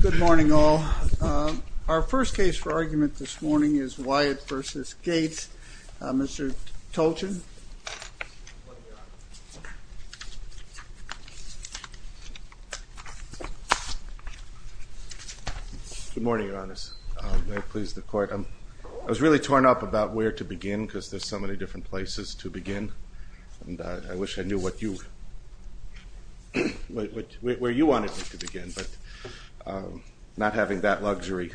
Good morning all. Our first case for argument this morning is Wyatt v. Gates. Mr. Tolchin. Good morning, your honors. May it please the court. I was really torn up about where to begin because there's so many different places to begin and I wish I knew where you wanted me to begin, but not having that luxury.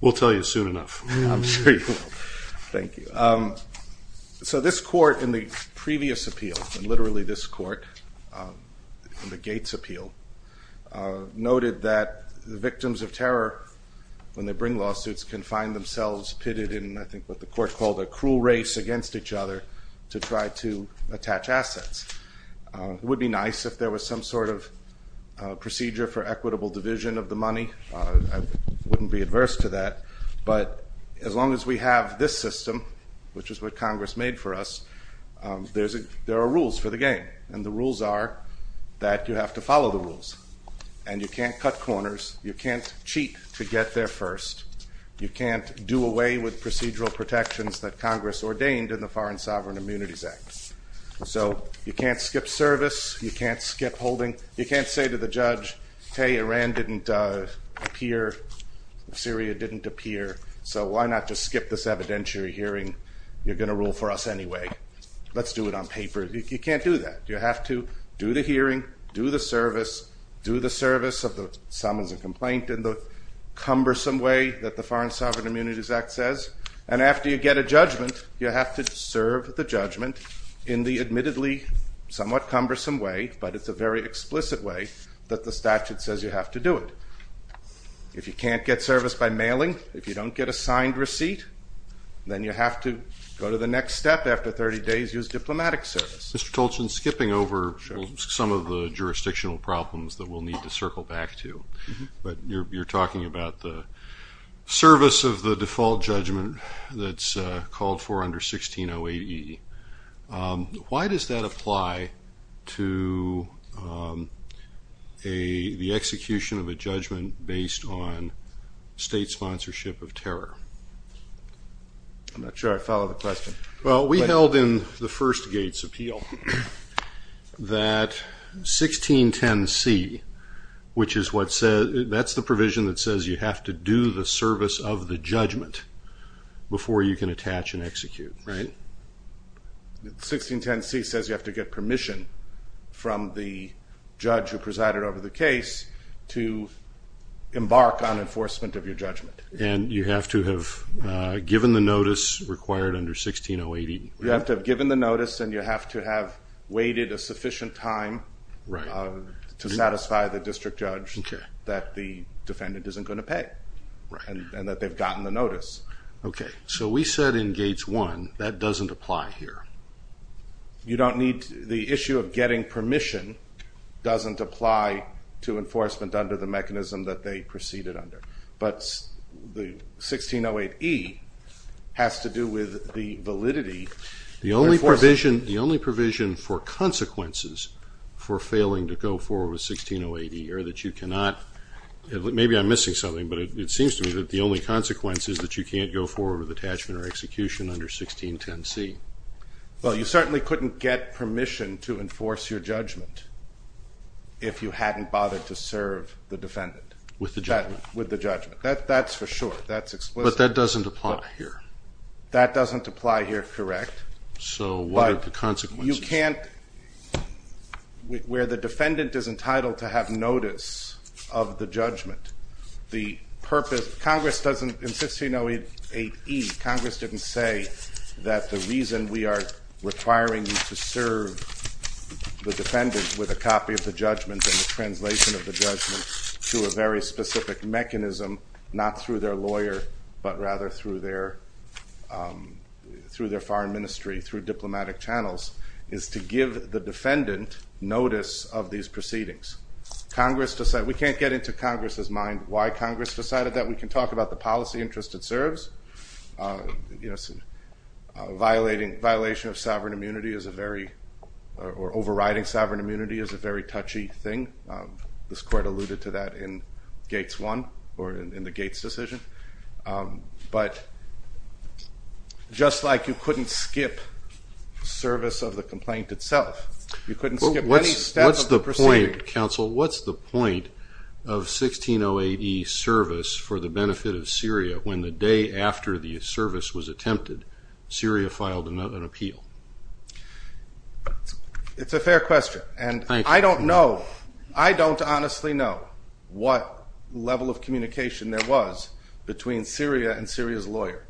We'll tell you soon enough. I'm sure you will. Thank you. So this court in the previous appeal, and literally this court in the Gates appeal, noted that the victims of terror when they bring lawsuits can find themselves pitted in, I think what the court called, a cruel race against each other to try to attach assets. It would be nice if there was some sort of procedure for equitable division of the money. I wouldn't be adverse to that, but as long as we have this system, which is what Congress made for us, there are rules for the game and the rules are that you have to follow the rules and you can't cut corners, you can't cheat to get there first, you can't do away with procedural protections that Congress ordained in the Foreign Sovereign Immunities Act. So you can't skip service, you can't skip holding, you can't say to the judge, hey Iran didn't appear, Syria didn't appear, so why not just skip this evidentiary hearing? You're going to have to do the hearing, do the service, do the service of the summons and complaint in the cumbersome way that the Foreign Sovereign Immunities Act says, and after you get a judgment, you have to serve the judgment in the admittedly somewhat cumbersome way, but it's a very explicit way, that the statute says you have to do it. If you can't get service by mailing, if you don't get a signed receipt, then you have to go to the next step after 30 days, use diplomatic service. Mr. Tolchin skipping over some of the jurisdictional problems that we'll need to circle back to, but you're talking about the service of the default judgment that's called for under 1608E. Why does that apply to the execution of a judgment based on state sponsorship of terror? I'm not sure I follow the question. Well, we held in the First Gates Appeal that 1610C, which is what says, that's the provision that says you have to do the service of the judgment before you can attach and execute, right? 1610C says you have to get permission from the judge who presided over the case to embark on enforcement of your judgment. And you have to have given the notice required under 1608E. You have to have given the notice and you have to have waited a sufficient time to satisfy the district judge that the defendant isn't going to pay, and that they've gotten the notice. Okay, so we said in Gates 1, that doesn't apply here. You don't need, the issue of getting 1608E has to do with the validity. The only provision for consequences for failing to go forward with 1608E are that you cannot, maybe I'm missing something, but it seems to me that the only consequence is that you can't go forward with attachment or execution under 1610C. Well, you certainly couldn't get permission to enforce your judgment if you hadn't bothered to serve the defendant. With the judgment. With the judgment. That's for sure. That's explicit. But that doesn't apply here. That doesn't apply here, correct. So what are the consequences? You can't, where the defendant is entitled to have notice of the judgment, the purpose, Congress doesn't, in 1608E, Congress didn't say that the reason we are requiring you to serve the defendant with a copy of the judgment and the translation of the judgment to a very specific mechanism, not through their lawyer, but rather through their foreign ministry, through diplomatic channels, is to give the defendant notice of these proceedings. Congress decided, we can't get into violating, violation of sovereign immunity is a very, or overriding sovereign immunity is a very touchy thing. This court alluded to that in Gates 1, or in the Gates decision. But just like you couldn't skip service of the complaint itself, you couldn't skip any step of the proceeding. What's the point, counsel, what's the point of 1608E service for the benefit of Syria, when the day after the service was attempted, Syria filed another appeal? It's a fair question, and I don't know, I don't honestly know what level of communication there was between Syria and Syria's lawyer.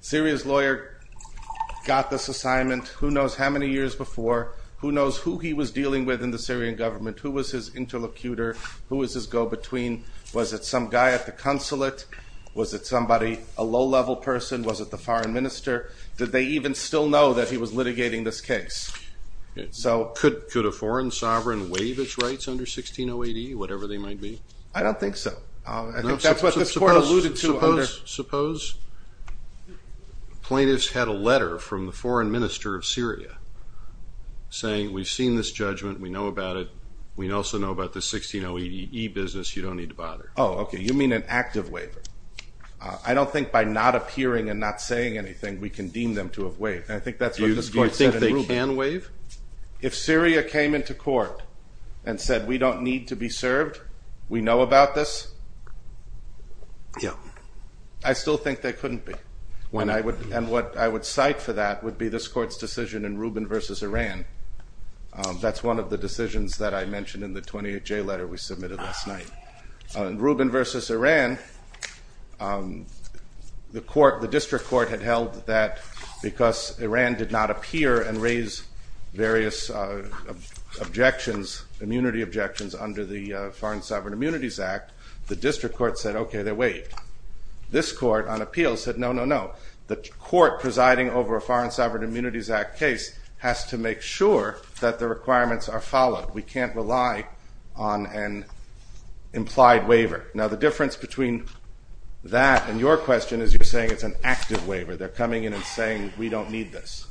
Syria's lawyer got this assignment who knows how many years before, who knows who he was dealing with in the Syrian government, who was his interlocutor, who was his go-between, was it some guy at the consulate, was it somebody, a low-level person, was it the foreign minister, did they even still know that he was litigating this case? So could a foreign sovereign waive its rights under 1608E, whatever they might be? I don't think so. I think that's what this court alluded to. Suppose plaintiffs had a letter from the foreign minister of Syria saying we've seen this case, we know about it, we also know about the 1608E business, you don't need to bother. Oh, okay, you mean an active waiver. I don't think by not appearing and not saying anything, we can deem them to have waived, and I think that's what this court said in Rubin. Do you think they can waive? If Syria came into court and said we don't need to be served, we know about this, I still think they can't waive the decisions that I mentioned in the 28J letter we submitted last night. In Rubin versus Iran, the court, the district court had held that because Iran did not appear and raise various objections, immunity objections, under the Foreign Sovereign Immunities Act, the district court said okay, they're waived. This court, on appeal, said no, no, no, the court presiding over a settlement, we can't rely on an implied waiver. Now the difference between that and your question is you're saying it's an active waiver. They're coming in and saying we don't need this.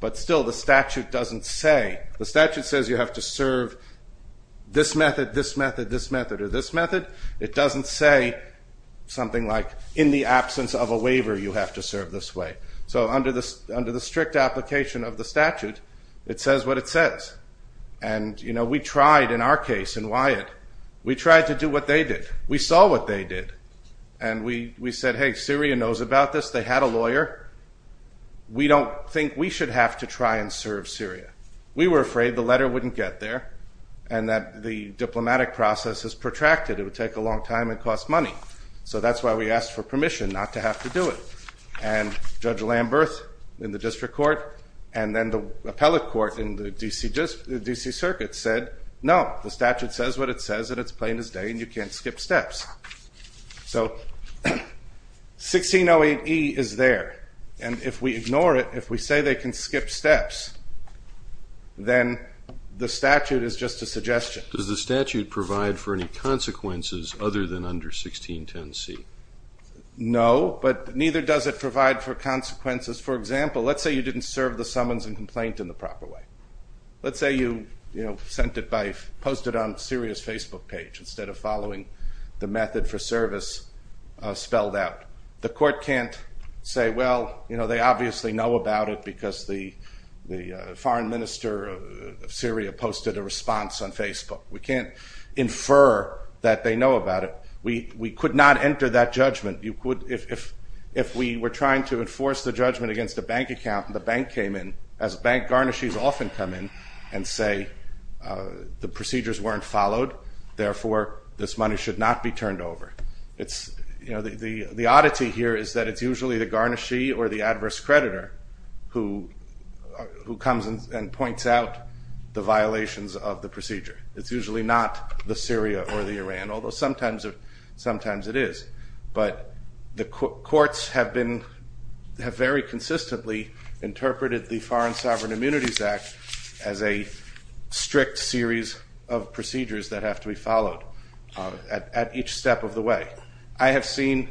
But still the statute doesn't say, the statute says you have to serve this method, this method, this method, or this method. It doesn't say something like in the absence of a waiver you have to serve this way. So under the strict application of the statute, it says what it says. And we tried in our case in Wyatt, we tried to do what they did. We saw what they did. And we said hey, Syria knows about this. They had a lawyer. We don't think we should have to try and serve Syria. We were afraid the letter wouldn't get there and that the diplomatic process is protracted. It would take a long time and cost money. So that's why we asked for permission not to have to do it. And Judge Lamberth in the district court and then the appellate court in the D.C. Circuit said no, the statute says what it says and it's plain as day and you can't skip steps. So 1608E is there. And if we ignore it, if we say they can skip steps, then the statute is just a suggestion. Does the statute provide for any consequences other than under 1610C? No, but neither does it provide for consequences. For example, let's say you didn't serve the summons and complaint in the proper way. Let's say you sent it by, posted it on Syria's Facebook page instead of following the method for service spelled out. The court can't say, well, they obviously know about it because the foreign minister of Syria posted a response on Facebook. We can't infer that they know about it. We could not enter that judgment. If we were trying to enforce the judgment against a bank account and the bank came in, as bank garnishes often come in and say the procedures weren't followed, therefore this money should not be turned over. The oddity here is that it's usually the garnishee or the adverse creditor who comes and points out the violations of the procedure. It's usually not the Syria or the Iran, although sometimes it is. But the courts have very consistently interpreted the Foreign Sovereign Immunities Act as a strict series of procedures that have to be followed at each step of the way. I have seen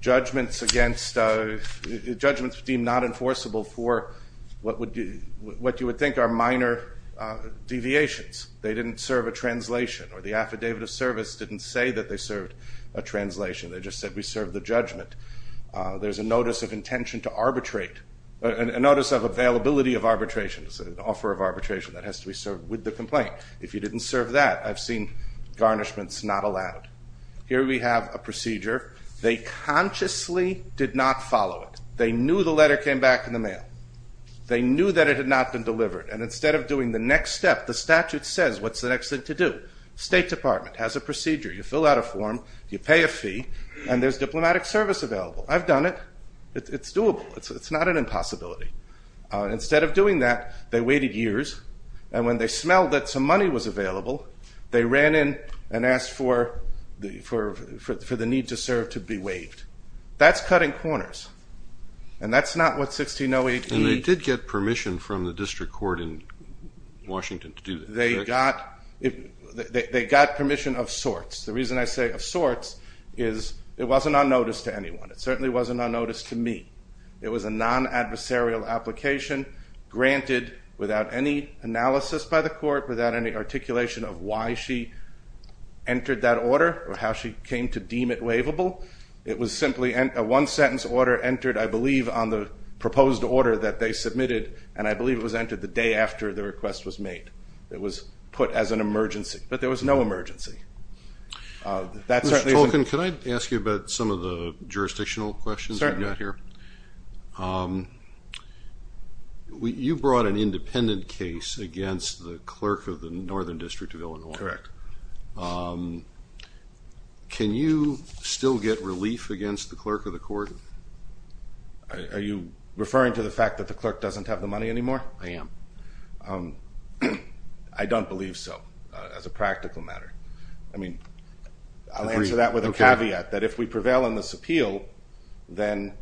judgments deemed not enforceable for what you would think are minor deviations. They didn't serve a translation or the Affidavit of Service didn't say that they served a translation. They just said we served the judgment. There's a Notice of Availability of Arbitration. It's an offer of arbitration that has to be served with the complaint. If you didn't serve that, I've seen garnishments not allowed. Here we have a procedure. They consciously did not follow it. They knew the letter came back in the mail. They knew that it had not been delivered. And instead of doing the next step, the statute says, what's the next thing to do? State Department has a procedure. You fill out a form, you pay a fee, and there's diplomatic service available. I've done it. It's doable. It's not an impossibility. Instead of doing that, they waited years. And when they smelled that some money was available, they ran in and asked for the need to serve to be waived. That's cutting corners. And that's not what 1608b... They got permission of sorts. The reason I say of sorts is it wasn't on notice to anyone. It certainly wasn't on notice to me. It was a non-adversarial application granted without any analysis by the court, without any articulation of why she entered that order or how she came to deem it waivable. It was simply a one-sentence order entered, I believe, on the proposed order that they submitted, and I believe it was entered the day after the request was made. It was put as an emergency. But there was no emergency. That certainly isn't... Mr. Tolkien, can I ask you about some of the jurisdictional questions you've got here? Certainly. You brought an independent case against the clerk of the Northern District of Illinois. Correct. Can you still get relief against the clerk of the court? Are you referring to the fact that the clerk doesn't have the money anymore? I am. I don't believe so as a practical matter. I mean, I'll answer that with a caveat, that if we prevail in this appeal, then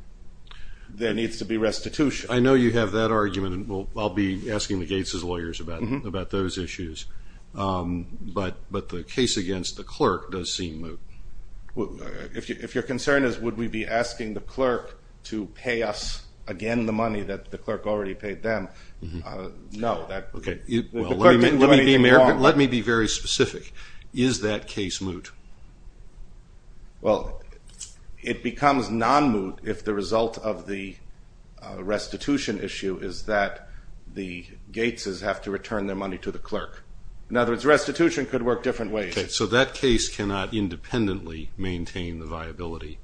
there needs to be restitution. I know you have that argument, and I'll be asking the Gateses lawyers about those issues. But the case against the clerk does seem moot. If your concern is would we be asking the clerk to pay us again the money that the clerk already paid them, no. Okay. Let me be very specific. Is that case moot? Well, it becomes non-moot if the result of the restitution issue is that the Gateses have to return their money to the clerk. In other words, restitution could work different ways. Okay, so that case cannot independently maintain the viability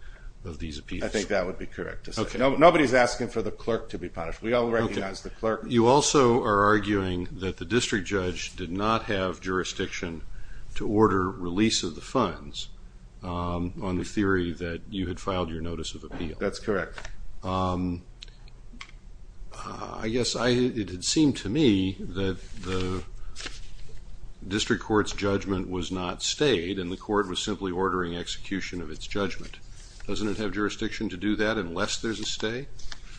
of these appeals. I think that would be correct to say. Nobody is asking for the clerk to be punished. We all recognize the clerk. You also are arguing that the district judge did not have jurisdiction to order release of the funds on the theory that you had filed your notice of appeal. That's correct. I guess it had seemed to me that the district court's judgment was not stayed, and the court was simply ordering execution of its judgment. Doesn't it have jurisdiction to do that unless there's a stay,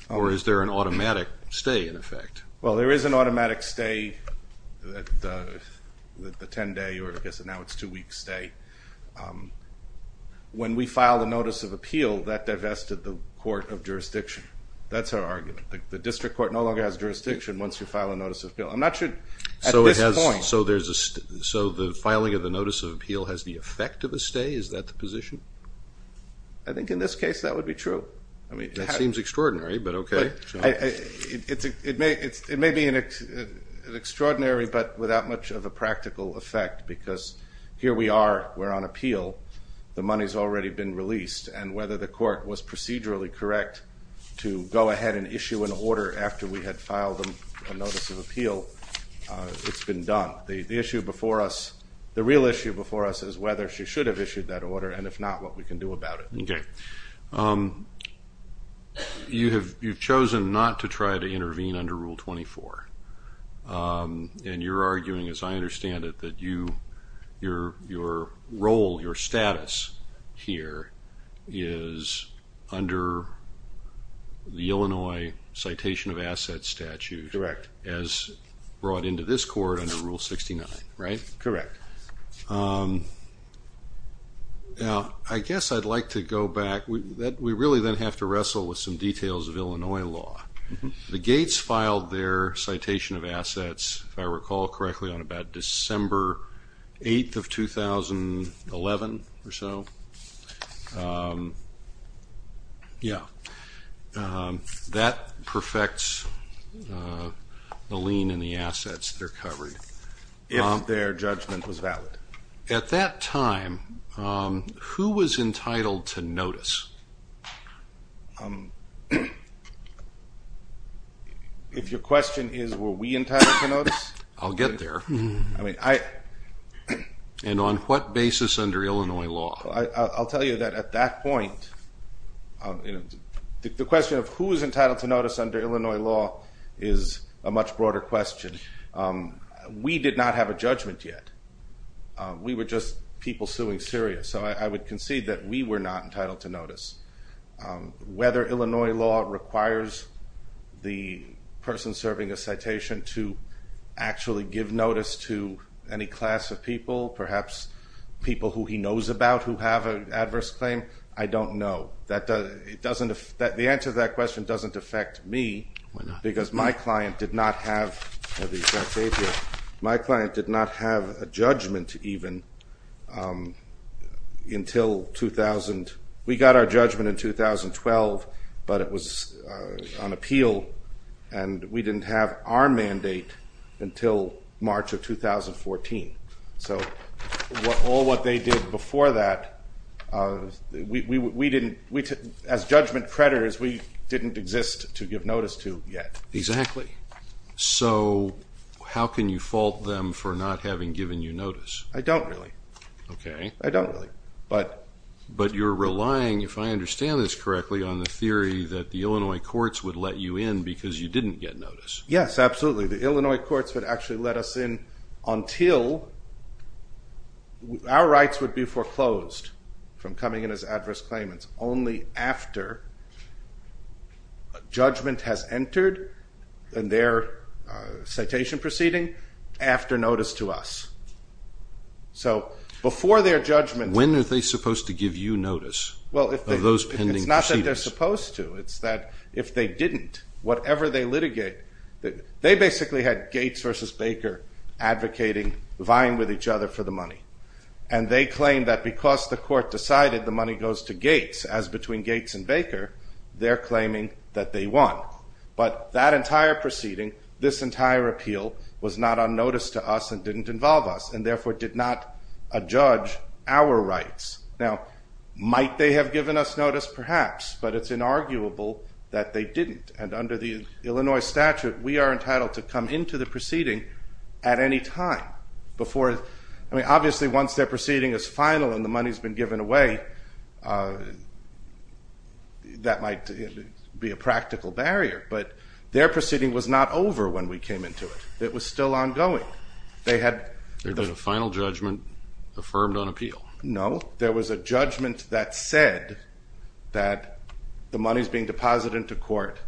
or is there an automatic stay in effect? Well, there is an automatic stay, the 10-day, or I guess now it's two-week stay. When we filed a notice of appeal, that divested the court of jurisdiction. That's our argument. The district court no longer has jurisdiction once you file a notice of appeal. I'm not sure at this point. So the filing of the notice of appeal has the effect of a stay? Is that the position? I think in this case that would be true. That seems extraordinary, but okay. It may be an extraordinary, but without much of a practical effect, because here we are. We're on appeal. The money's already been released, and whether the court was procedurally correct to go ahead and issue an order after we had filed a notice of appeal, it's been done. The issue before us, the real issue before us is whether she should have issued that order, and if not, what we can do about it. Okay. You've chosen not to try to intervene under Rule 24, and you're arguing, as I understand it, that your role, your status here is under the Illinois Citation of Assets statute. Correct. As brought into this court under Rule 69, right? Correct. Now, I guess I'd like to go back. We really then have to wrestle with some details of Illinois law. The Gates filed their citation of assets, if I recall correctly, on about December 8th of 2011 or so. Yeah. That perfects the lien and the assets that are covered. If their judgment was valid. At that time, who was entitled to notice? If your question is, were we entitled to notice? I'll get there. And on what basis under Illinois law? I'll tell you that at that point, the question of who is entitled to notice under Illinois law is a much broader question. We did not have a judgment yet. We were just people suing serious, so I would concede that we were not entitled to notice. Whether Illinois law requires the person serving a citation to actually give notice to any class of people, perhaps people who he knows about who have an adverse claim, I don't know. The answer to that question doesn't affect me because my client did not have a judgment even until 2000. We got our judgment in 2012, but it was on appeal, and we didn't have our mandate until March of 2014. So all what they did before that, we didn't, as judgment creditors, we didn't exist to give notice to yet. Exactly. So how can you fault them for not having given you notice? I don't really. Okay. I don't really. But you're relying, if I understand this correctly, on the theory that the Illinois courts would let you in because you didn't get notice. Yes, absolutely. The Illinois courts would actually let us in until our rights would be foreclosed from coming in as adverse claimants, only after judgment has entered in their citation proceeding, after notice to us. So before their judgment. When are they supposed to give you notice of those pending proceedings? Well, it's not that they're supposed to. It's that if they didn't, whatever they litigate, they basically had Gates versus Baker advocating, vying with each other for the money, and they claimed that because the court decided the money goes to Gates, as between Gates and Baker, they're claiming that they won. But that entire proceeding, this entire appeal, was not on notice to us and didn't involve us, and therefore did not adjudge our rights. Now, might they have given us notice? Perhaps. But it's inarguable that they didn't. And under the Illinois statute, we are entitled to come into the proceeding at any time. Obviously, once their proceeding is final and the money has been given away, that might be a practical barrier. But their proceeding was not over when we came into it. It was still ongoing. There was a final judgment affirmed on appeal. No. There was a judgment that said that the money is being deposited into court.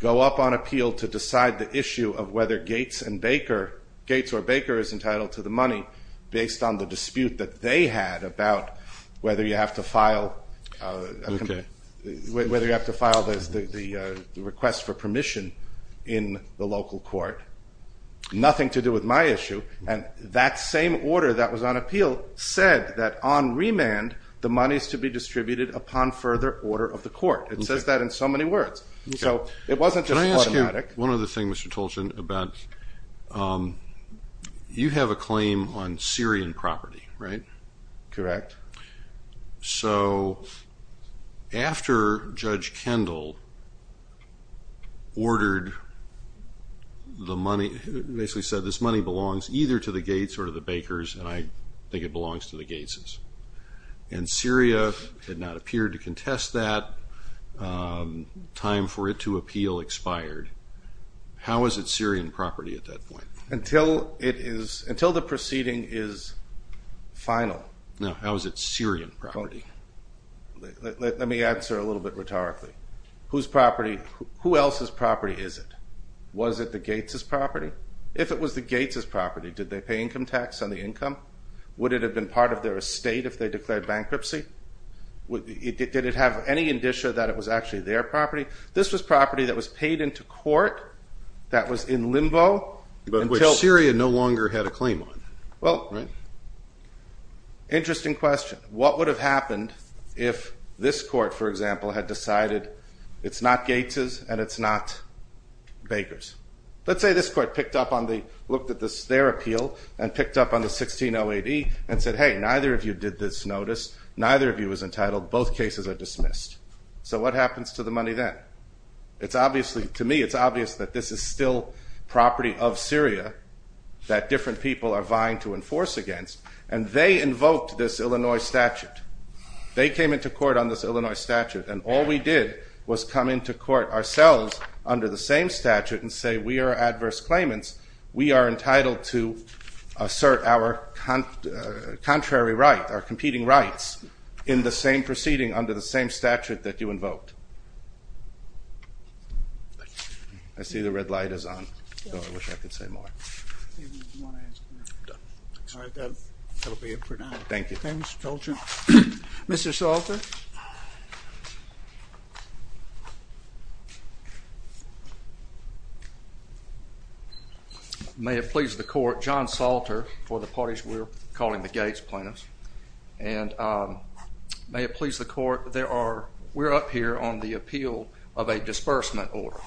Go up on appeal to decide the issue of whether Gates or Baker is entitled to the money, based on the dispute that they had about whether you have to file the request for permission in the local court. Nothing to do with my issue. And that same order that was on appeal said that on remand, the money is to be distributed upon further order of the court. It says that in so many words. So it wasn't just automatic. Can I ask you one other thing, Mr. Tolchin, about you have a claim on Syrian property, right? Correct. So after Judge Kendall ordered the money, basically said this money belongs either to the Gates or to the Bakers, and I think it belongs to the Gateses, and Syria did not appear to contest that, time for it to appeal expired. How is it Syrian property at that point? Until the proceeding is final. No. How is it Syrian property? Let me answer a little bit rhetorically. Whose property? Who else's property is it? Was it the Gateses' property? If it was the Gateses' property, did they pay income tax on the income? Would it have been part of their estate if they declared bankruptcy? Did it have any indicia that it was actually their property? This was property that was paid into court, that was in limbo. But Syria no longer had a claim on it, right? Well, interesting question. What would have happened if this court, for example, had decided it's not Gates's and it's not Baker's? Let's say this court picked up on the, looked at their appeal and picked up on the 1608E and said, hey, neither of you did this notice, neither of you is entitled, both cases are dismissed. So what happens to the money then? It's obviously, to me, it's obvious that this is still property of Syria that different people are vying to enforce against, and they invoked this Illinois statute. They came into court on this Illinois statute, and all we did was come into court ourselves under the same statute and say we are adverse claimants, we are entitled to assert our contrary right, our competing rights, in the same proceeding under the same statute that you invoked. I see the red light is on. I wish I could say more. All right, that will be it for now. Thank you. Mr. Salter? May it please the court, John Salter for the parties we're calling the Gates plaintiffs, and may it please the court, we're up here on the appeal of a disbursement order.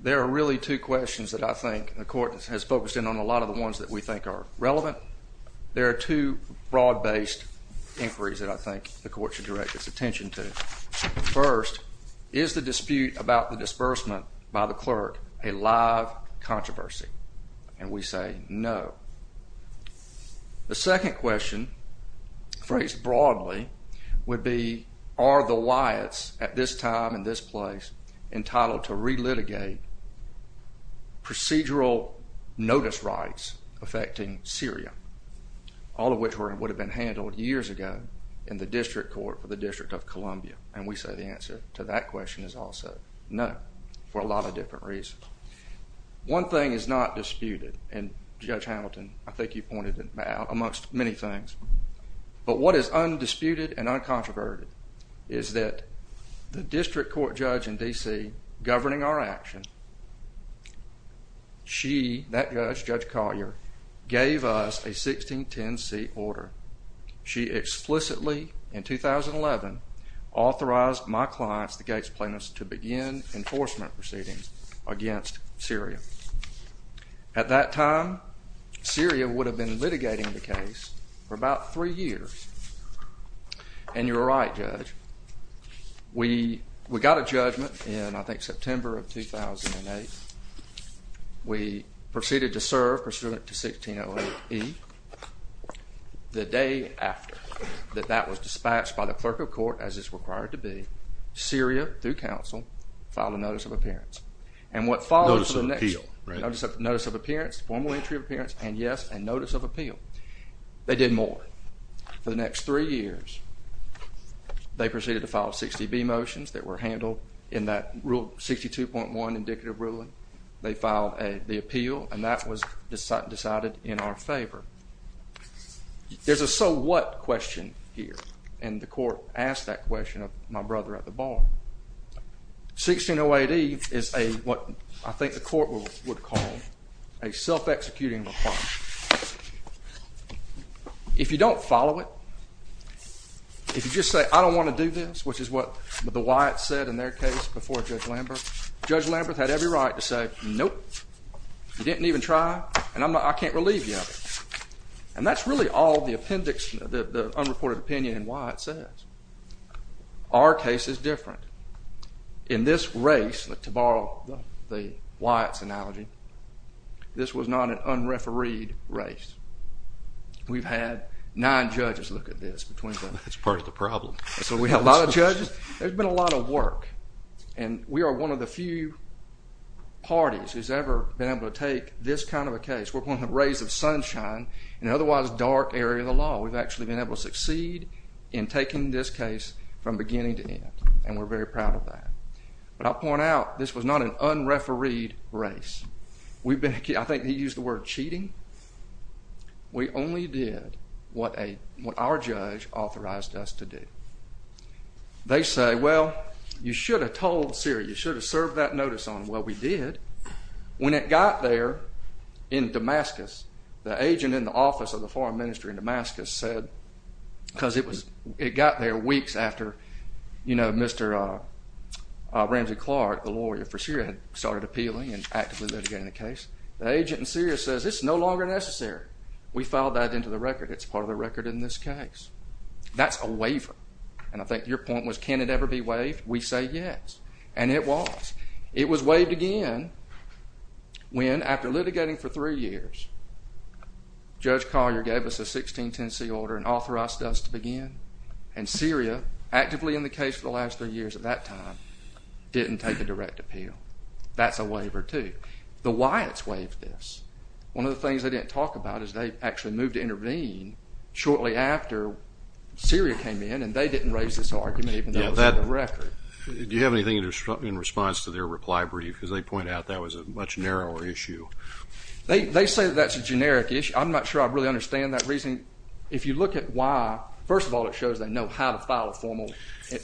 There are really two questions that I think the court has focused in on, a lot of the ones that we think are relevant. There are two broad-based inquiries that I think the court should direct its attention to. First, is the dispute about the disbursement by the clerk a live controversy? And we say no. The second question, phrased broadly, would be, are the Wyatts at this time and this place entitled to re-litigate procedural notice rights affecting Syria, all of which would have been handled years ago in the district court for the District of Columbia? And we say the answer to that question is also no, for a lot of different reasons. One thing is not disputed, and Judge Hamilton, I think you pointed it out, amongst many things, but what is undisputed and uncontroverted is that the district court judge in D.C. governing our action, she, that judge, Judge Collier, gave us a 1610C order. She explicitly, in 2011, authorized my clients, the Gates plaintiffs, to begin enforcement proceedings against Syria. At that time, Syria would have been litigating the case for about three years. And you're right, Judge. We got a judgment in, I think, September of 2008. We proceeded to serve pursuant to 1608E. The day after that that was dispatched by the clerk of court, as is required to be, Syria, through counsel, filed a notice of appearance. Notice of appeal, right. Notice of appearance, formal entry of appearance, and yes, a notice of appeal. They did more. For the next three years, they proceeded to file 60B motions that were handled in that Rule 62.1 indicative ruling. They filed the appeal, and that was decided in our favor. There's a so what question here, and the court asked that question of my brother at the bar. 1608E is what I think the court would call a self-executing requirement. If you don't follow it, if you just say, I don't want to do this, which is what the Wyatts said in their case before Judge Lamberth, Judge Lamberth had every right to say, nope, you didn't even try, and I can't relieve you of it. And that's really all the appendix, the unreported opinion in Wyatt says. Our case is different. In this race, to borrow the Wyatts analogy, this was not an unrefereed race. We've had nine judges look at this. That's part of the problem. So we have a lot of judges. There's been a lot of work, and we are one of the few parties who's ever been able to take this kind of a case. We're one of the rays of sunshine in an otherwise dark area of the law. We've actually been able to succeed in taking this case from beginning to end, and we're very proud of that. But I'll point out, this was not an unrefereed race. I think he used the word cheating. We only did what our judge authorized us to do. They say, well, you should have told Syria, you should have served that notice on them. Well, we did. When it got there in Damascus, the agent in the office of the foreign minister in Damascus said, because it got there weeks after Mr. Ramsey Clark, the lawyer for Syria, had started appealing and actively litigating the case. The agent in Syria says, it's no longer necessary. We filed that into the record. It's part of the record in this case. That's a waiver. And I think your point was, can it ever be waived? We say yes, and it was. It was waived again when, after litigating for three years, Judge Collier gave us a 1610C order and authorized us to begin. And Syria, actively in the case for the last three years at that time, didn't take a direct appeal. That's a waiver, too. The Wyatts waived this. One of the things they didn't talk about is they actually moved to intervene shortly after Syria came in, and they didn't raise this argument even though it was in the record. Do you have anything in response to their reply brief? Because they point out that was a much narrower issue. They say that's a generic issue. I'm not sure I really understand that reasoning. If you look at why, first of all, it shows they know how to file a formal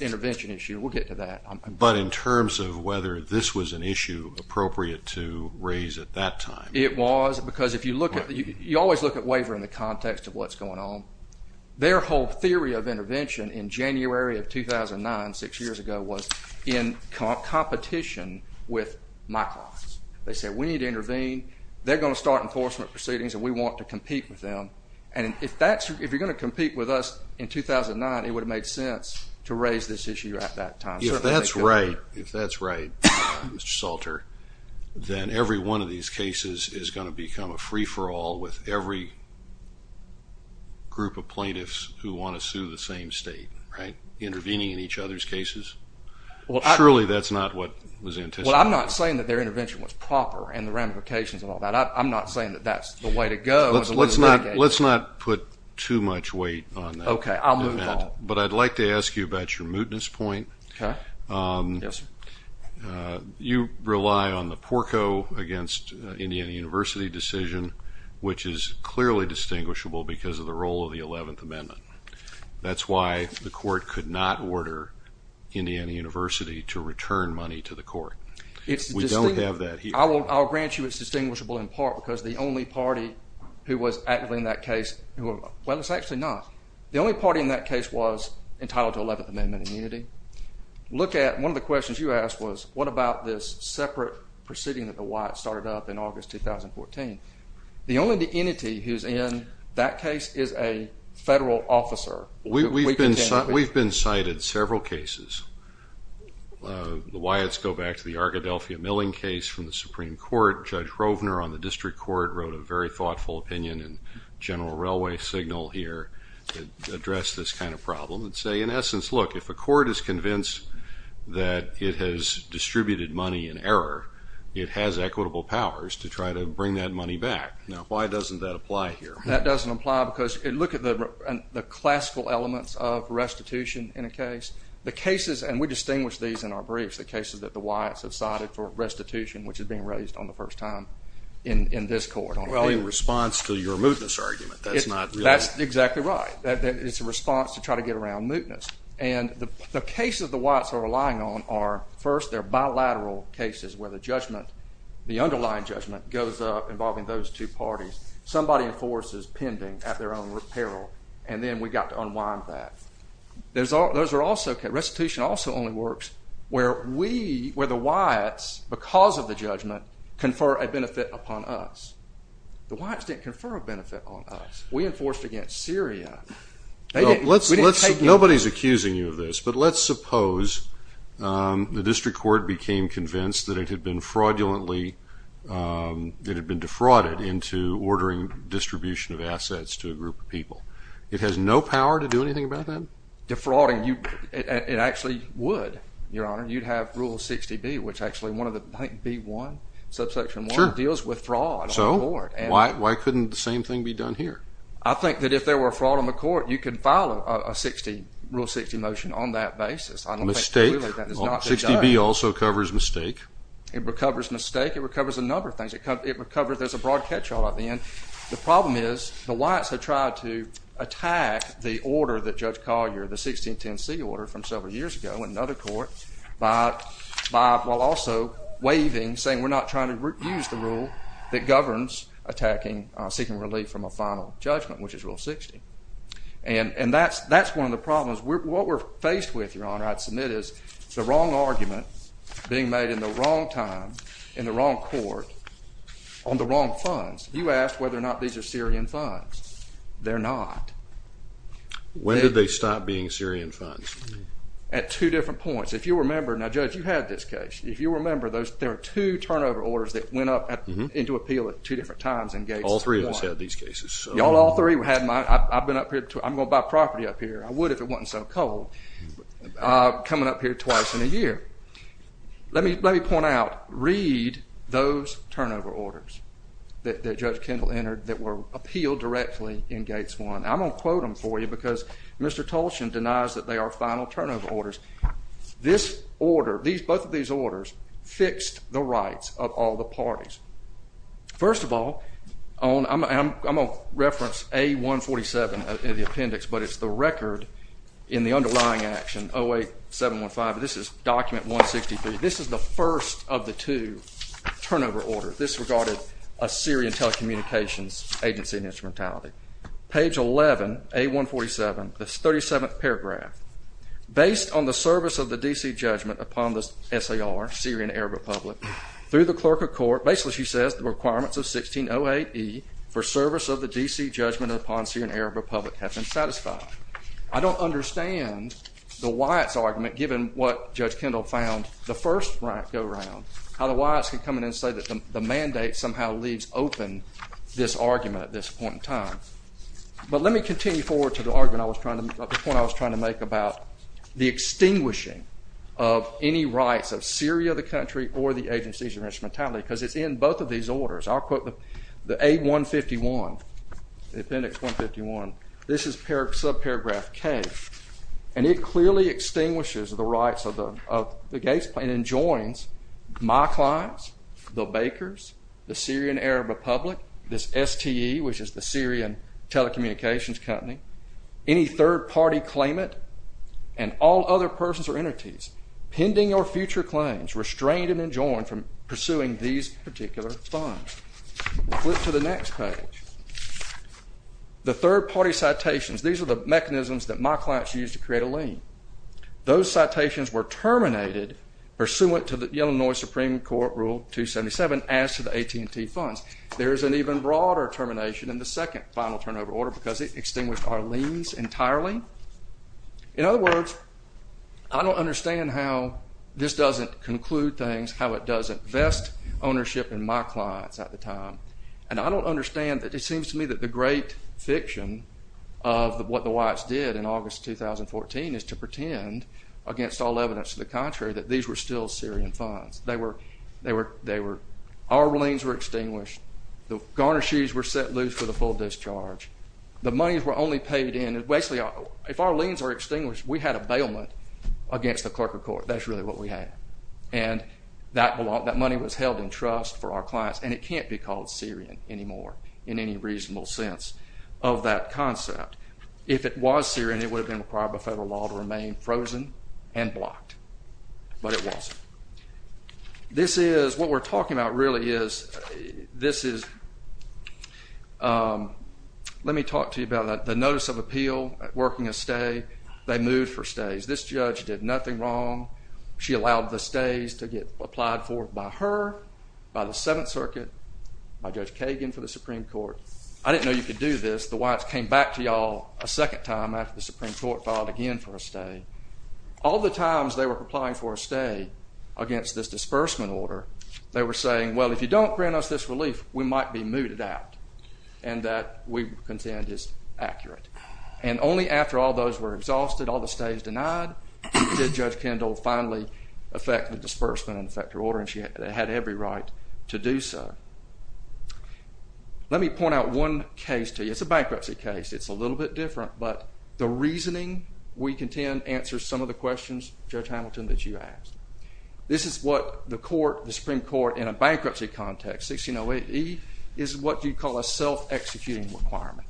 intervention issue. We'll get to that. But in terms of whether this was an issue appropriate to raise at that time. It was, because if you look at it, you always look at waiver in the context of what's going on. Their whole theory of intervention in January of 2009, six years ago, was in competition with my clients. They said we need to intervene. They're going to start enforcement proceedings, and we want to compete with them. And if you're going to compete with us in 2009, it would have made sense to raise this issue at that time. If that's right, Mr. Salter, then every one of these cases is going to become a free-for-all with every group of plaintiffs who want to sue the same state, right, intervening in each other's cases. Surely that's not what was the intention. Well, I'm not saying that their intervention was proper and the ramifications of all that. I'm not saying that that's the way to go. Let's not put too much weight on that. Okay, I'll move on. But I'd like to ask you about your mootness point. Yes, sir. You rely on the Porco against Indiana University decision, which is clearly distinguishable because of the role of the 11th Amendment. That's why the court could not order Indiana University to return money to the court. We don't have that here. I'll grant you it's distinguishable in part because the only party who was active in that case, well, it's actually not. The only party in that case was entitled to 11th Amendment immunity. One of the questions you asked was, what about this separate proceeding that the Wyatts started up in August 2014? The only entity who's in that case is a federal officer. We've been cited several cases. The Wyatts go back to the Arkadelphia milling case from the Supreme Court. Judge Rovner on the district court wrote a very thoughtful opinion in General Railway Signal here that addressed this kind of problem and say, in essence, look, if a court is convinced that it has distributed money in error, it has equitable powers to try to bring that money back. Now, why doesn't that apply here? That doesn't apply because look at the classical elements of restitution in a case. The cases, and we distinguish these in our briefs, the cases that the Wyatts have cited for restitution, which is being raised on the first time in this court. In response to your mootness argument. That's exactly right. It's a response to try to get around mootness. The cases the Wyatts are relying on are, first, they're bilateral cases where the underlying judgment goes up involving those two parties. Somebody enforces pending at their own repair, and then we've got to unwind that. Restitution also only works where the Wyatts, because of the judgment, confer a benefit upon us. The Wyatts didn't confer a benefit upon us. We enforced against Syria. Nobody is accusing you of this, but let's suppose the district court became convinced that it had been defrauded into ordering distribution of assets to a group of people. It has no power to do anything about that? Defrauding, it actually would, Your Honor. You'd have Rule 60B, which actually, I think B1, subsection 1, deals with fraud on the court. Why couldn't the same thing be done here? I think that if there were fraud on the court, you could file a Rule 60 motion on that basis. Mistake? I don't think, really, that is not what they've done. 60B also covers mistake. It covers mistake. It recovers a number of things. There's a broad catch-all at the end. The problem is the Wyatts have tried to attack the order that Judge Collier, the 1610C order from several years ago in another court, while also waving, saying, we're not trying to use the rule that governs attacking seeking relief from a final judgment, which is Rule 60. And that's one of the problems. What we're faced with, Your Honor, I'd submit, is the wrong argument being made in the wrong time in the wrong court on the wrong funds. You asked whether or not these are Syrian funds. They're not. When did they stop being Syrian funds? At two different points. If you remember, now, Judge, you had this case. If you remember, there are two turnover orders that went up into appeal at two different times in Gates 1. All three of us had these cases. I've been up here. I'm going to buy property up here. I would if it wasn't so cold. Coming up here twice in a year. Let me point out, read those turnover orders that Judge Kendall entered that were appealed directly in Gates 1. I'm going to quote them for you because Mr. Tolshin denies that they are final turnover orders. This order, both of these orders, fixed the rights of all the parties. First of all, I'm going to reference A147 in the appendix, but it's the record in the underlying action, 08715. This is document 163. This is the first of the two turnover orders. This regarded a Syrian telecommunications agency and instrumentality. Page 11, A147, the 37th paragraph. Based on the service of the D.C. judgment upon the S.A.R., Syrian Arab Republic, through the clerk of court, basically she says the requirements of 1608E for service of the D.C. judgment upon Syrian Arab Republic have been satisfied. I don't understand the Wyatt's argument, given what Judge Kendall found the first round, how the Wyatts could come in and say that the mandate somehow leaves open this argument at this point in time. But let me continue forward to the argument I was trying to make about the extinguishing of any rights of Syria, the country, or the agencies and instrumentality, because it's in both of these orders. I'll quote the A151, the appendix 151. This is subparagraph K. And it clearly extinguishes the rights of the Gates plan and joins my clients, the Bakers, the Syrian Arab Republic, this STE, which is the Syrian Telecommunications Company. Any third-party claimant and all other persons or entities pending or future claims, restrained and enjoined from pursuing these particular funds. Flip to the next page. The third-party citations, these are the mechanisms that my clients use to create a lien. Those citations were terminated pursuant to the Illinois Supreme Court Rule 277 as to the AT&T funds. There is an even broader termination in the second final turnover order because it extinguished our liens entirely. In other words, I don't understand how this doesn't conclude things, how it doesn't vest ownership in my clients at the time. And I don't understand that it seems to me that the great fiction of what the Whites did in August 2014 is to pretend, against all evidence to the contrary, that these were still Syrian funds. They were... Our liens were extinguished. The garter shoes were set loose for the full discharge. The monies were only paid in. Basically, if our liens are extinguished, we had a bailment against the clerk of court. That's really what we had. And that money was held in trust for our clients, and it can't be called Syrian anymore in any reasonable sense of that concept. If it was Syrian, it would have been required by federal law to remain frozen and blocked. But it wasn't. This is... What we're talking about really is... This is... Let me talk to you about the notice of appeal, working a stay. They moved for stays. This judge did nothing wrong. She allowed the stays to get applied for by her, by the Seventh Circuit, by Judge Kagan for the Supreme Court. I didn't know you could do this. The Whites came back to y'all a second time after the Supreme Court filed again for a stay. All the times they were applying for a stay against this disbursement order, they were saying, well, if you don't grant us this relief, we might be mooted out, and that we contend is accurate. And only after all those were exhausted, all the stays denied, did Judge Kendall finally effect the disbursement and effect her order, and she had every right to do so. Let me point out one case to you. It's a bankruptcy case. It's a little bit different, but the reasoning we contend answers some of the questions, Judge Hamilton, that you asked. This is what the court, the Supreme Court, in a bankruptcy context, 1608E, is what you'd call a self-executing requirement.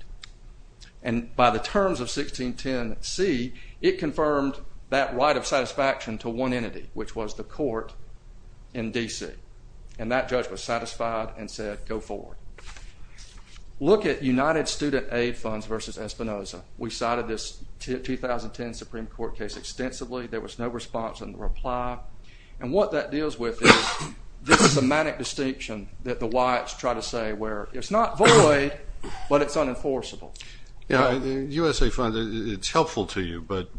And by the terms of 1610C, it confirmed that right of satisfaction to one entity, which was the court in D.C. And that judge was satisfied and said, go forward. Look at United Student Aid Funds v. Espinoza. We cited this 2010 Supreme Court case extensively. There was no response in the reply. And what that deals with is this semantic distinction that the Wyatts try to say, where it's not void, but it's unenforceable. Yeah, USA Funds, it's helpful to you, but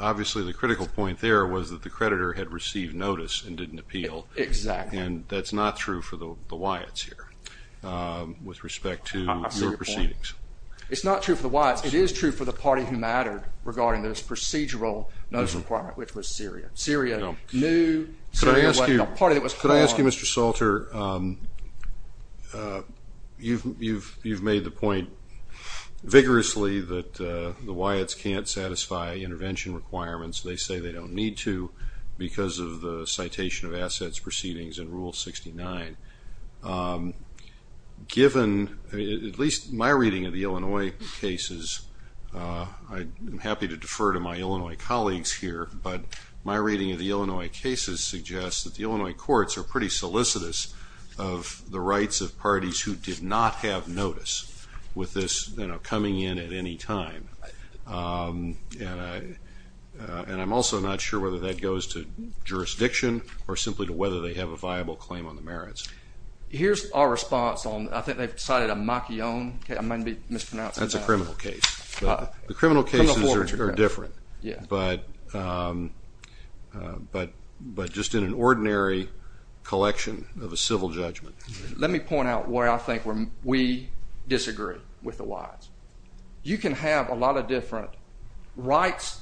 obviously the critical point there was that the creditor had received notice and didn't appeal. Exactly. And that's not true for the Wyatts here. With respect to your proceedings. It's not true for the Wyatts. It is true for the party who mattered regarding this procedural notice requirement, which was Syria. Syria knew. Could I ask you, Mr. Salter, you've made the point vigorously that the Wyatts can't satisfy intervention requirements. They say they don't need to because of the citation of assets proceedings in Rule 69. Given, at least my reading of the Illinois cases, I'm happy to defer to my Illinois colleagues here, but my reading of the Illinois cases suggests that the Illinois courts are pretty solicitous of the rights of parties who did not have notice with this coming in at any time. And I'm also not sure whether that goes to jurisdiction or simply to whether they have a viable claim on the merits. Here's our response. I think they've cited a Macchione case. I might be mispronouncing that. That's a criminal case. The criminal cases are different. But just in an ordinary collection of a civil judgment. Let me point out where I think we disagree with the Wyatts. You can have a lot of different rights,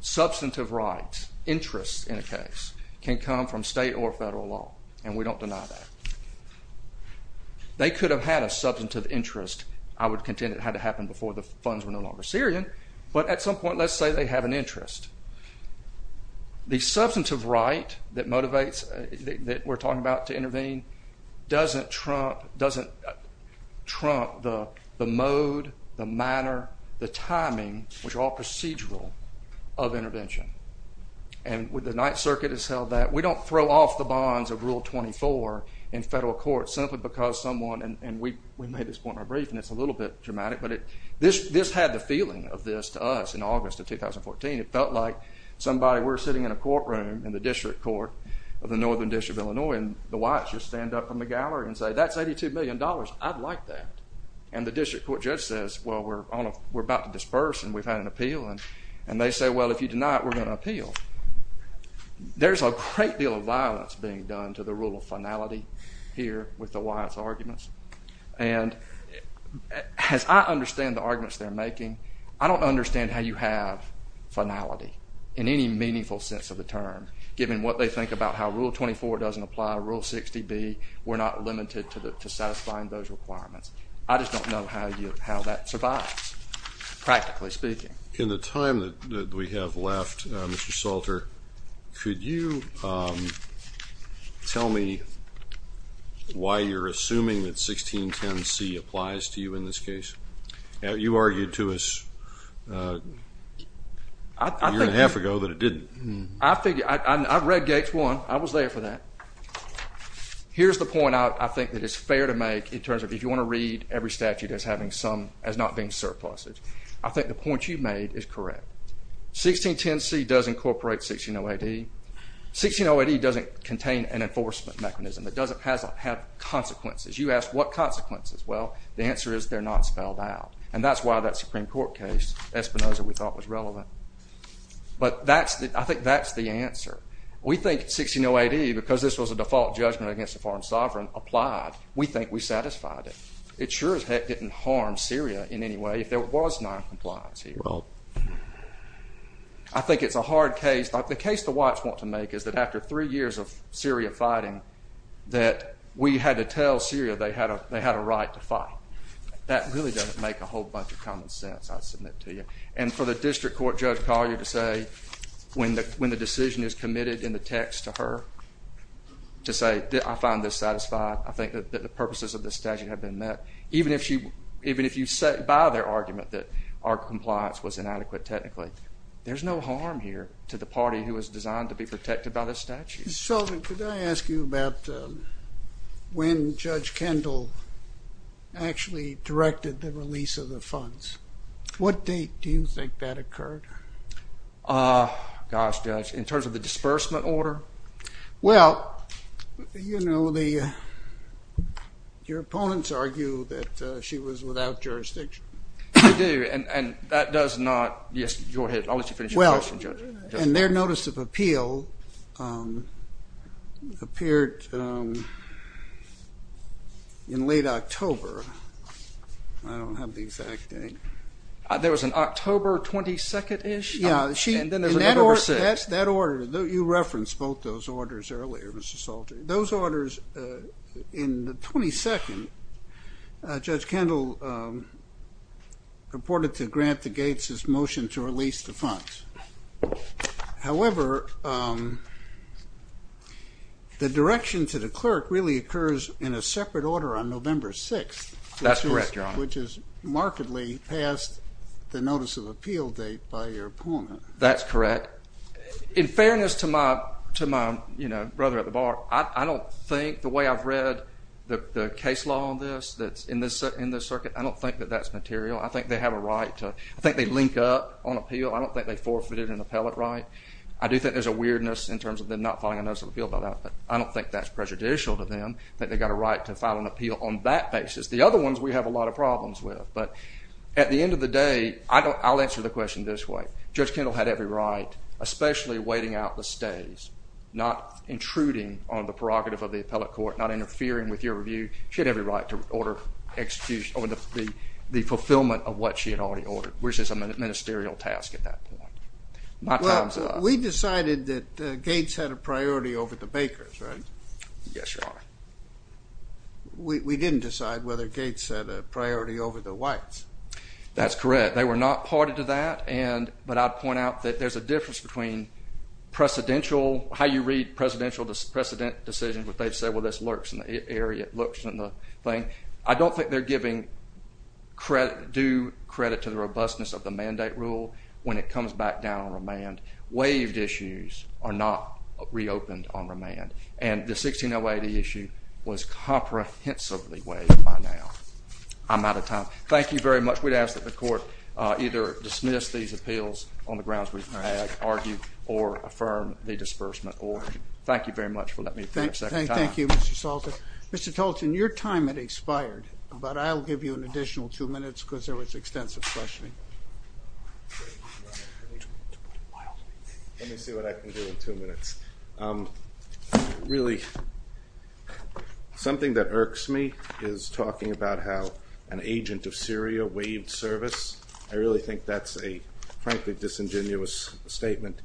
substantive rights, interests in a case. They can come from state or federal law, and we don't deny that. They could have had a substantive interest. I would contend it had to happen before the funds were no longer Syrian, but at some point, let's say they have an interest. The substantive right that motivates, that we're talking about to intervene, doesn't trump the mode, the manner, the timing, which are all procedural, of intervention. And the Ninth Circuit has held that. We don't throw off the bonds of Rule 24 in federal court simply because someone, and we made this point in our brief, and it's a little bit dramatic, but this had the feeling of this to us in August of 2014. It felt like we're sitting in a courtroom in the District Court of the Northern District of Illinois, and the Wyatts just stand up from the gallery and say, that's $82 million. I'd like that. And the District Court judge says, well, we're about to disperse, and we've had an appeal. And they say, well, if you deny it, we're going to appeal. There's a great deal of violence being done to the rule of finality here with the Wyatts arguments. And as I understand the arguments they're making, I don't understand how you have finality in any meaningful sense of the term, given what they think about how Rule 24 doesn't apply, Rule 60B. We're not limited to satisfying those requirements. I just don't know how that survives, practically speaking. In the time that we have left, Mr. Salter, could you tell me why you're assuming that 1610C applies to you in this case? You argued to us a year and a half ago that it didn't. I've read Gates 1. I was there for that. Here's the point I think that it's fair to make in terms of if you want to read every statute as not being surplused. I think the point you've made is correct. 1610C does incorporate 1608E. 1608E doesn't contain an enforcement mechanism. It doesn't have consequences. You asked what consequences. Well, the answer is they're not spelled out. And that's why that Supreme Court case, Espinoza, we thought was relevant. But I think that's the answer. We think 1608E, because this was a default judgment against a foreign sovereign, applied. We think we satisfied it. It sure as heck didn't harm Syria in any way if there was noncompliance here. I think it's a hard case. The case the whites want to make is that after three years of Syria fighting, that we had to tell Syria they had a right to fight. That really doesn't make a whole bunch of common sense, I submit to you. And for the district court, Judge Collier, to say when the decision is committed in the text to her, to say, I find this satisfying. I think that the purposes of this statute have been met. Even if you set by their argument that our compliance was inadequate technically, there's no harm here to the party who was designed to be protected by this statute. Mr. Sheldon, could I ask you about when Judge Kendall actually directed the release of the funds? What date do you think that occurred? Gosh, Judge, in terms of the disbursement order? Well, you know, your opponents argue that she was without jurisdiction. They do, and that does not... I'll let you finish your question, Judge. And their notice of appeal appeared in late October. I don't have the exact date. There was an October 22nd-ish? That order, you referenced both those orders earlier, Mr. Salter. Those orders in the 22nd, Judge Kendall reported to Grant the Gates' motion to release the funds. However, the direction to the clerk really occurs in a separate order on November 6th. That's correct, Your Honor. Which is markedly past the notice of appeal date by your opponent. That's correct. In fairness to my brother at the bar, I don't think, the way I've read the case law on this in this circuit, I don't think that that's material. I think they have a right to... I think they link up on appeal. I don't think they forfeited an appellate right. I do think there's a weirdness in terms of them not filing a notice of appeal by that, but I don't think that's prejudicial to them that they've got a right to file an appeal on that basis. The other ones we have a lot of problems with. But at the end of the day, I'll answer the question this way. Judge Kendall had every right, especially waiting out the stays, not intruding on the prerogative of the appellate court, not interfering with your review. She had every right to order execution or the fulfillment of what she had already ordered, which is a ministerial task at that point. My time's up. Well, we decided that Gates had a priority over the Bakers, right? Yes, Your Honor. We didn't decide whether Gates had a priority over the whites. That's correct. They were not party to that, but I'd point out that there's a difference between how you read presidential decisions, where they say, well, this lurks in the area, it lurks in the thing. I don't think they're giving due credit to the robustness of the mandate rule when it comes back down on remand. Waived issues are not reopened on remand. And the 1608E issue was comprehensively waived by now. I'm out of time. Thank you very much. We'd ask that the court either dismiss these appeals on the grounds we've had argued or affirm the disbursement order. Thank you very much for letting me finish. Thank you, Mr. Salter. Mr. Tolton, your time had expired, but I'll give you an additional two minutes because there was extensive questioning. Let me see what I can do in two minutes. Really, something that irks me is talking about how an agent of Syria waived service. I really think that's a frankly disingenuous statement.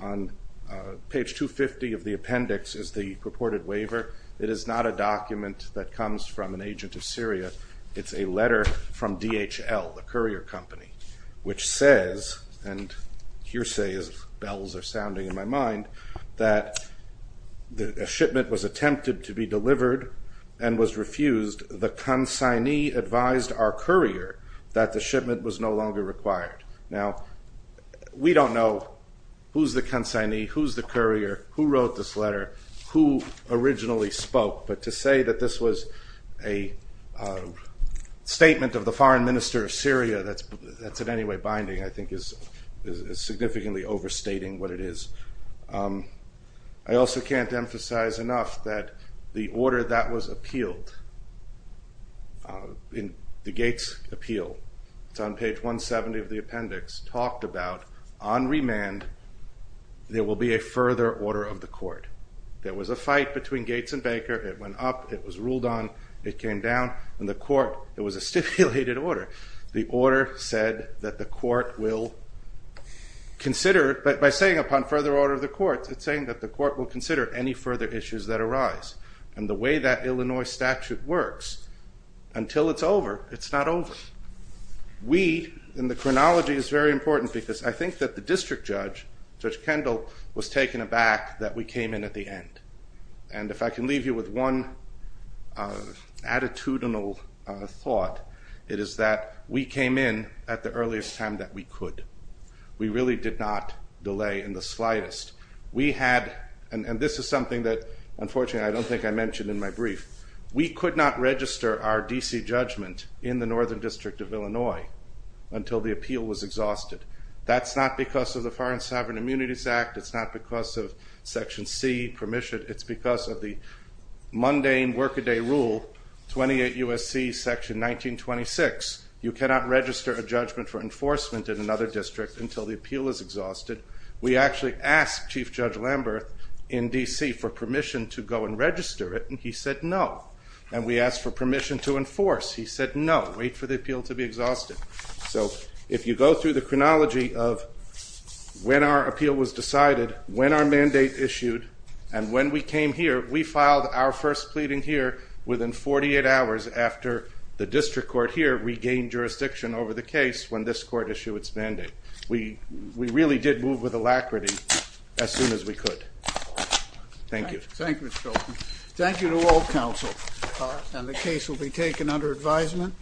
On page 250 of the appendix is the purported waiver. It is not a document that comes from an agent of Syria. It's a letter from DHL, the courier company, which says, and hearsay bells are sounding in my mind, that a shipment was attempted to be delivered and was refused. The consignee advised our courier that the shipment was no longer required. Now, we don't know who's the consignee, who's the courier, who wrote this letter, who originally spoke, but to say that this was a statement of the foreign minister of Syria that's in any way binding I think is significantly overstating what it is. I also can't emphasize enough that the order that was appealed, the Gates appeal, it's on page 170 of the appendix, talked about on remand there will be a further order of the court. There was a fight between Gates and Baker. It went up, it was ruled on, it came down, and the court, it was a stipulated order. The order said that the court will consider, by saying upon further order of the court, it's saying that the court will consider any further issues that arise. And the way that Illinois statute works, until it's over, it's not over. We, and the chronology is very important because I think that the district judge, Judge Kendall, was taken aback that we came in at the end. And if I can leave you with one attitudinal thought, it is that we came in at the earliest time that we could. We really did not delay in the slightest. We had, and this is something that unfortunately I don't think I mentioned in my brief, we could not register our D.C. judgment in the Northern District of Illinois until the appeal was exhausted. That's not because of the Foreign Sovereign Immunities Act, it's not because of Section C permission, it's because of the mundane work-a-day rule, 28 U.S.C. Section 1926, you cannot register a judgment for enforcement in another district until the appeal is exhausted. We actually asked Chief Judge Lamberth in D.C. for permission to go and register it, and he said no. And we asked for permission to enforce, he said no, wait for the appeal to be exhausted. So if you go through the chronology of when our appeal was decided, when our mandate issued, and when we came here, we filed our first pleading here within 48 hours after the district court here regained jurisdiction over the case when this court issued its mandate. We really did move with alacrity as soon as we could. Thank you. Thank you, Mr. Fulton. Thank you to all counsel. And the case will be taken under advisement.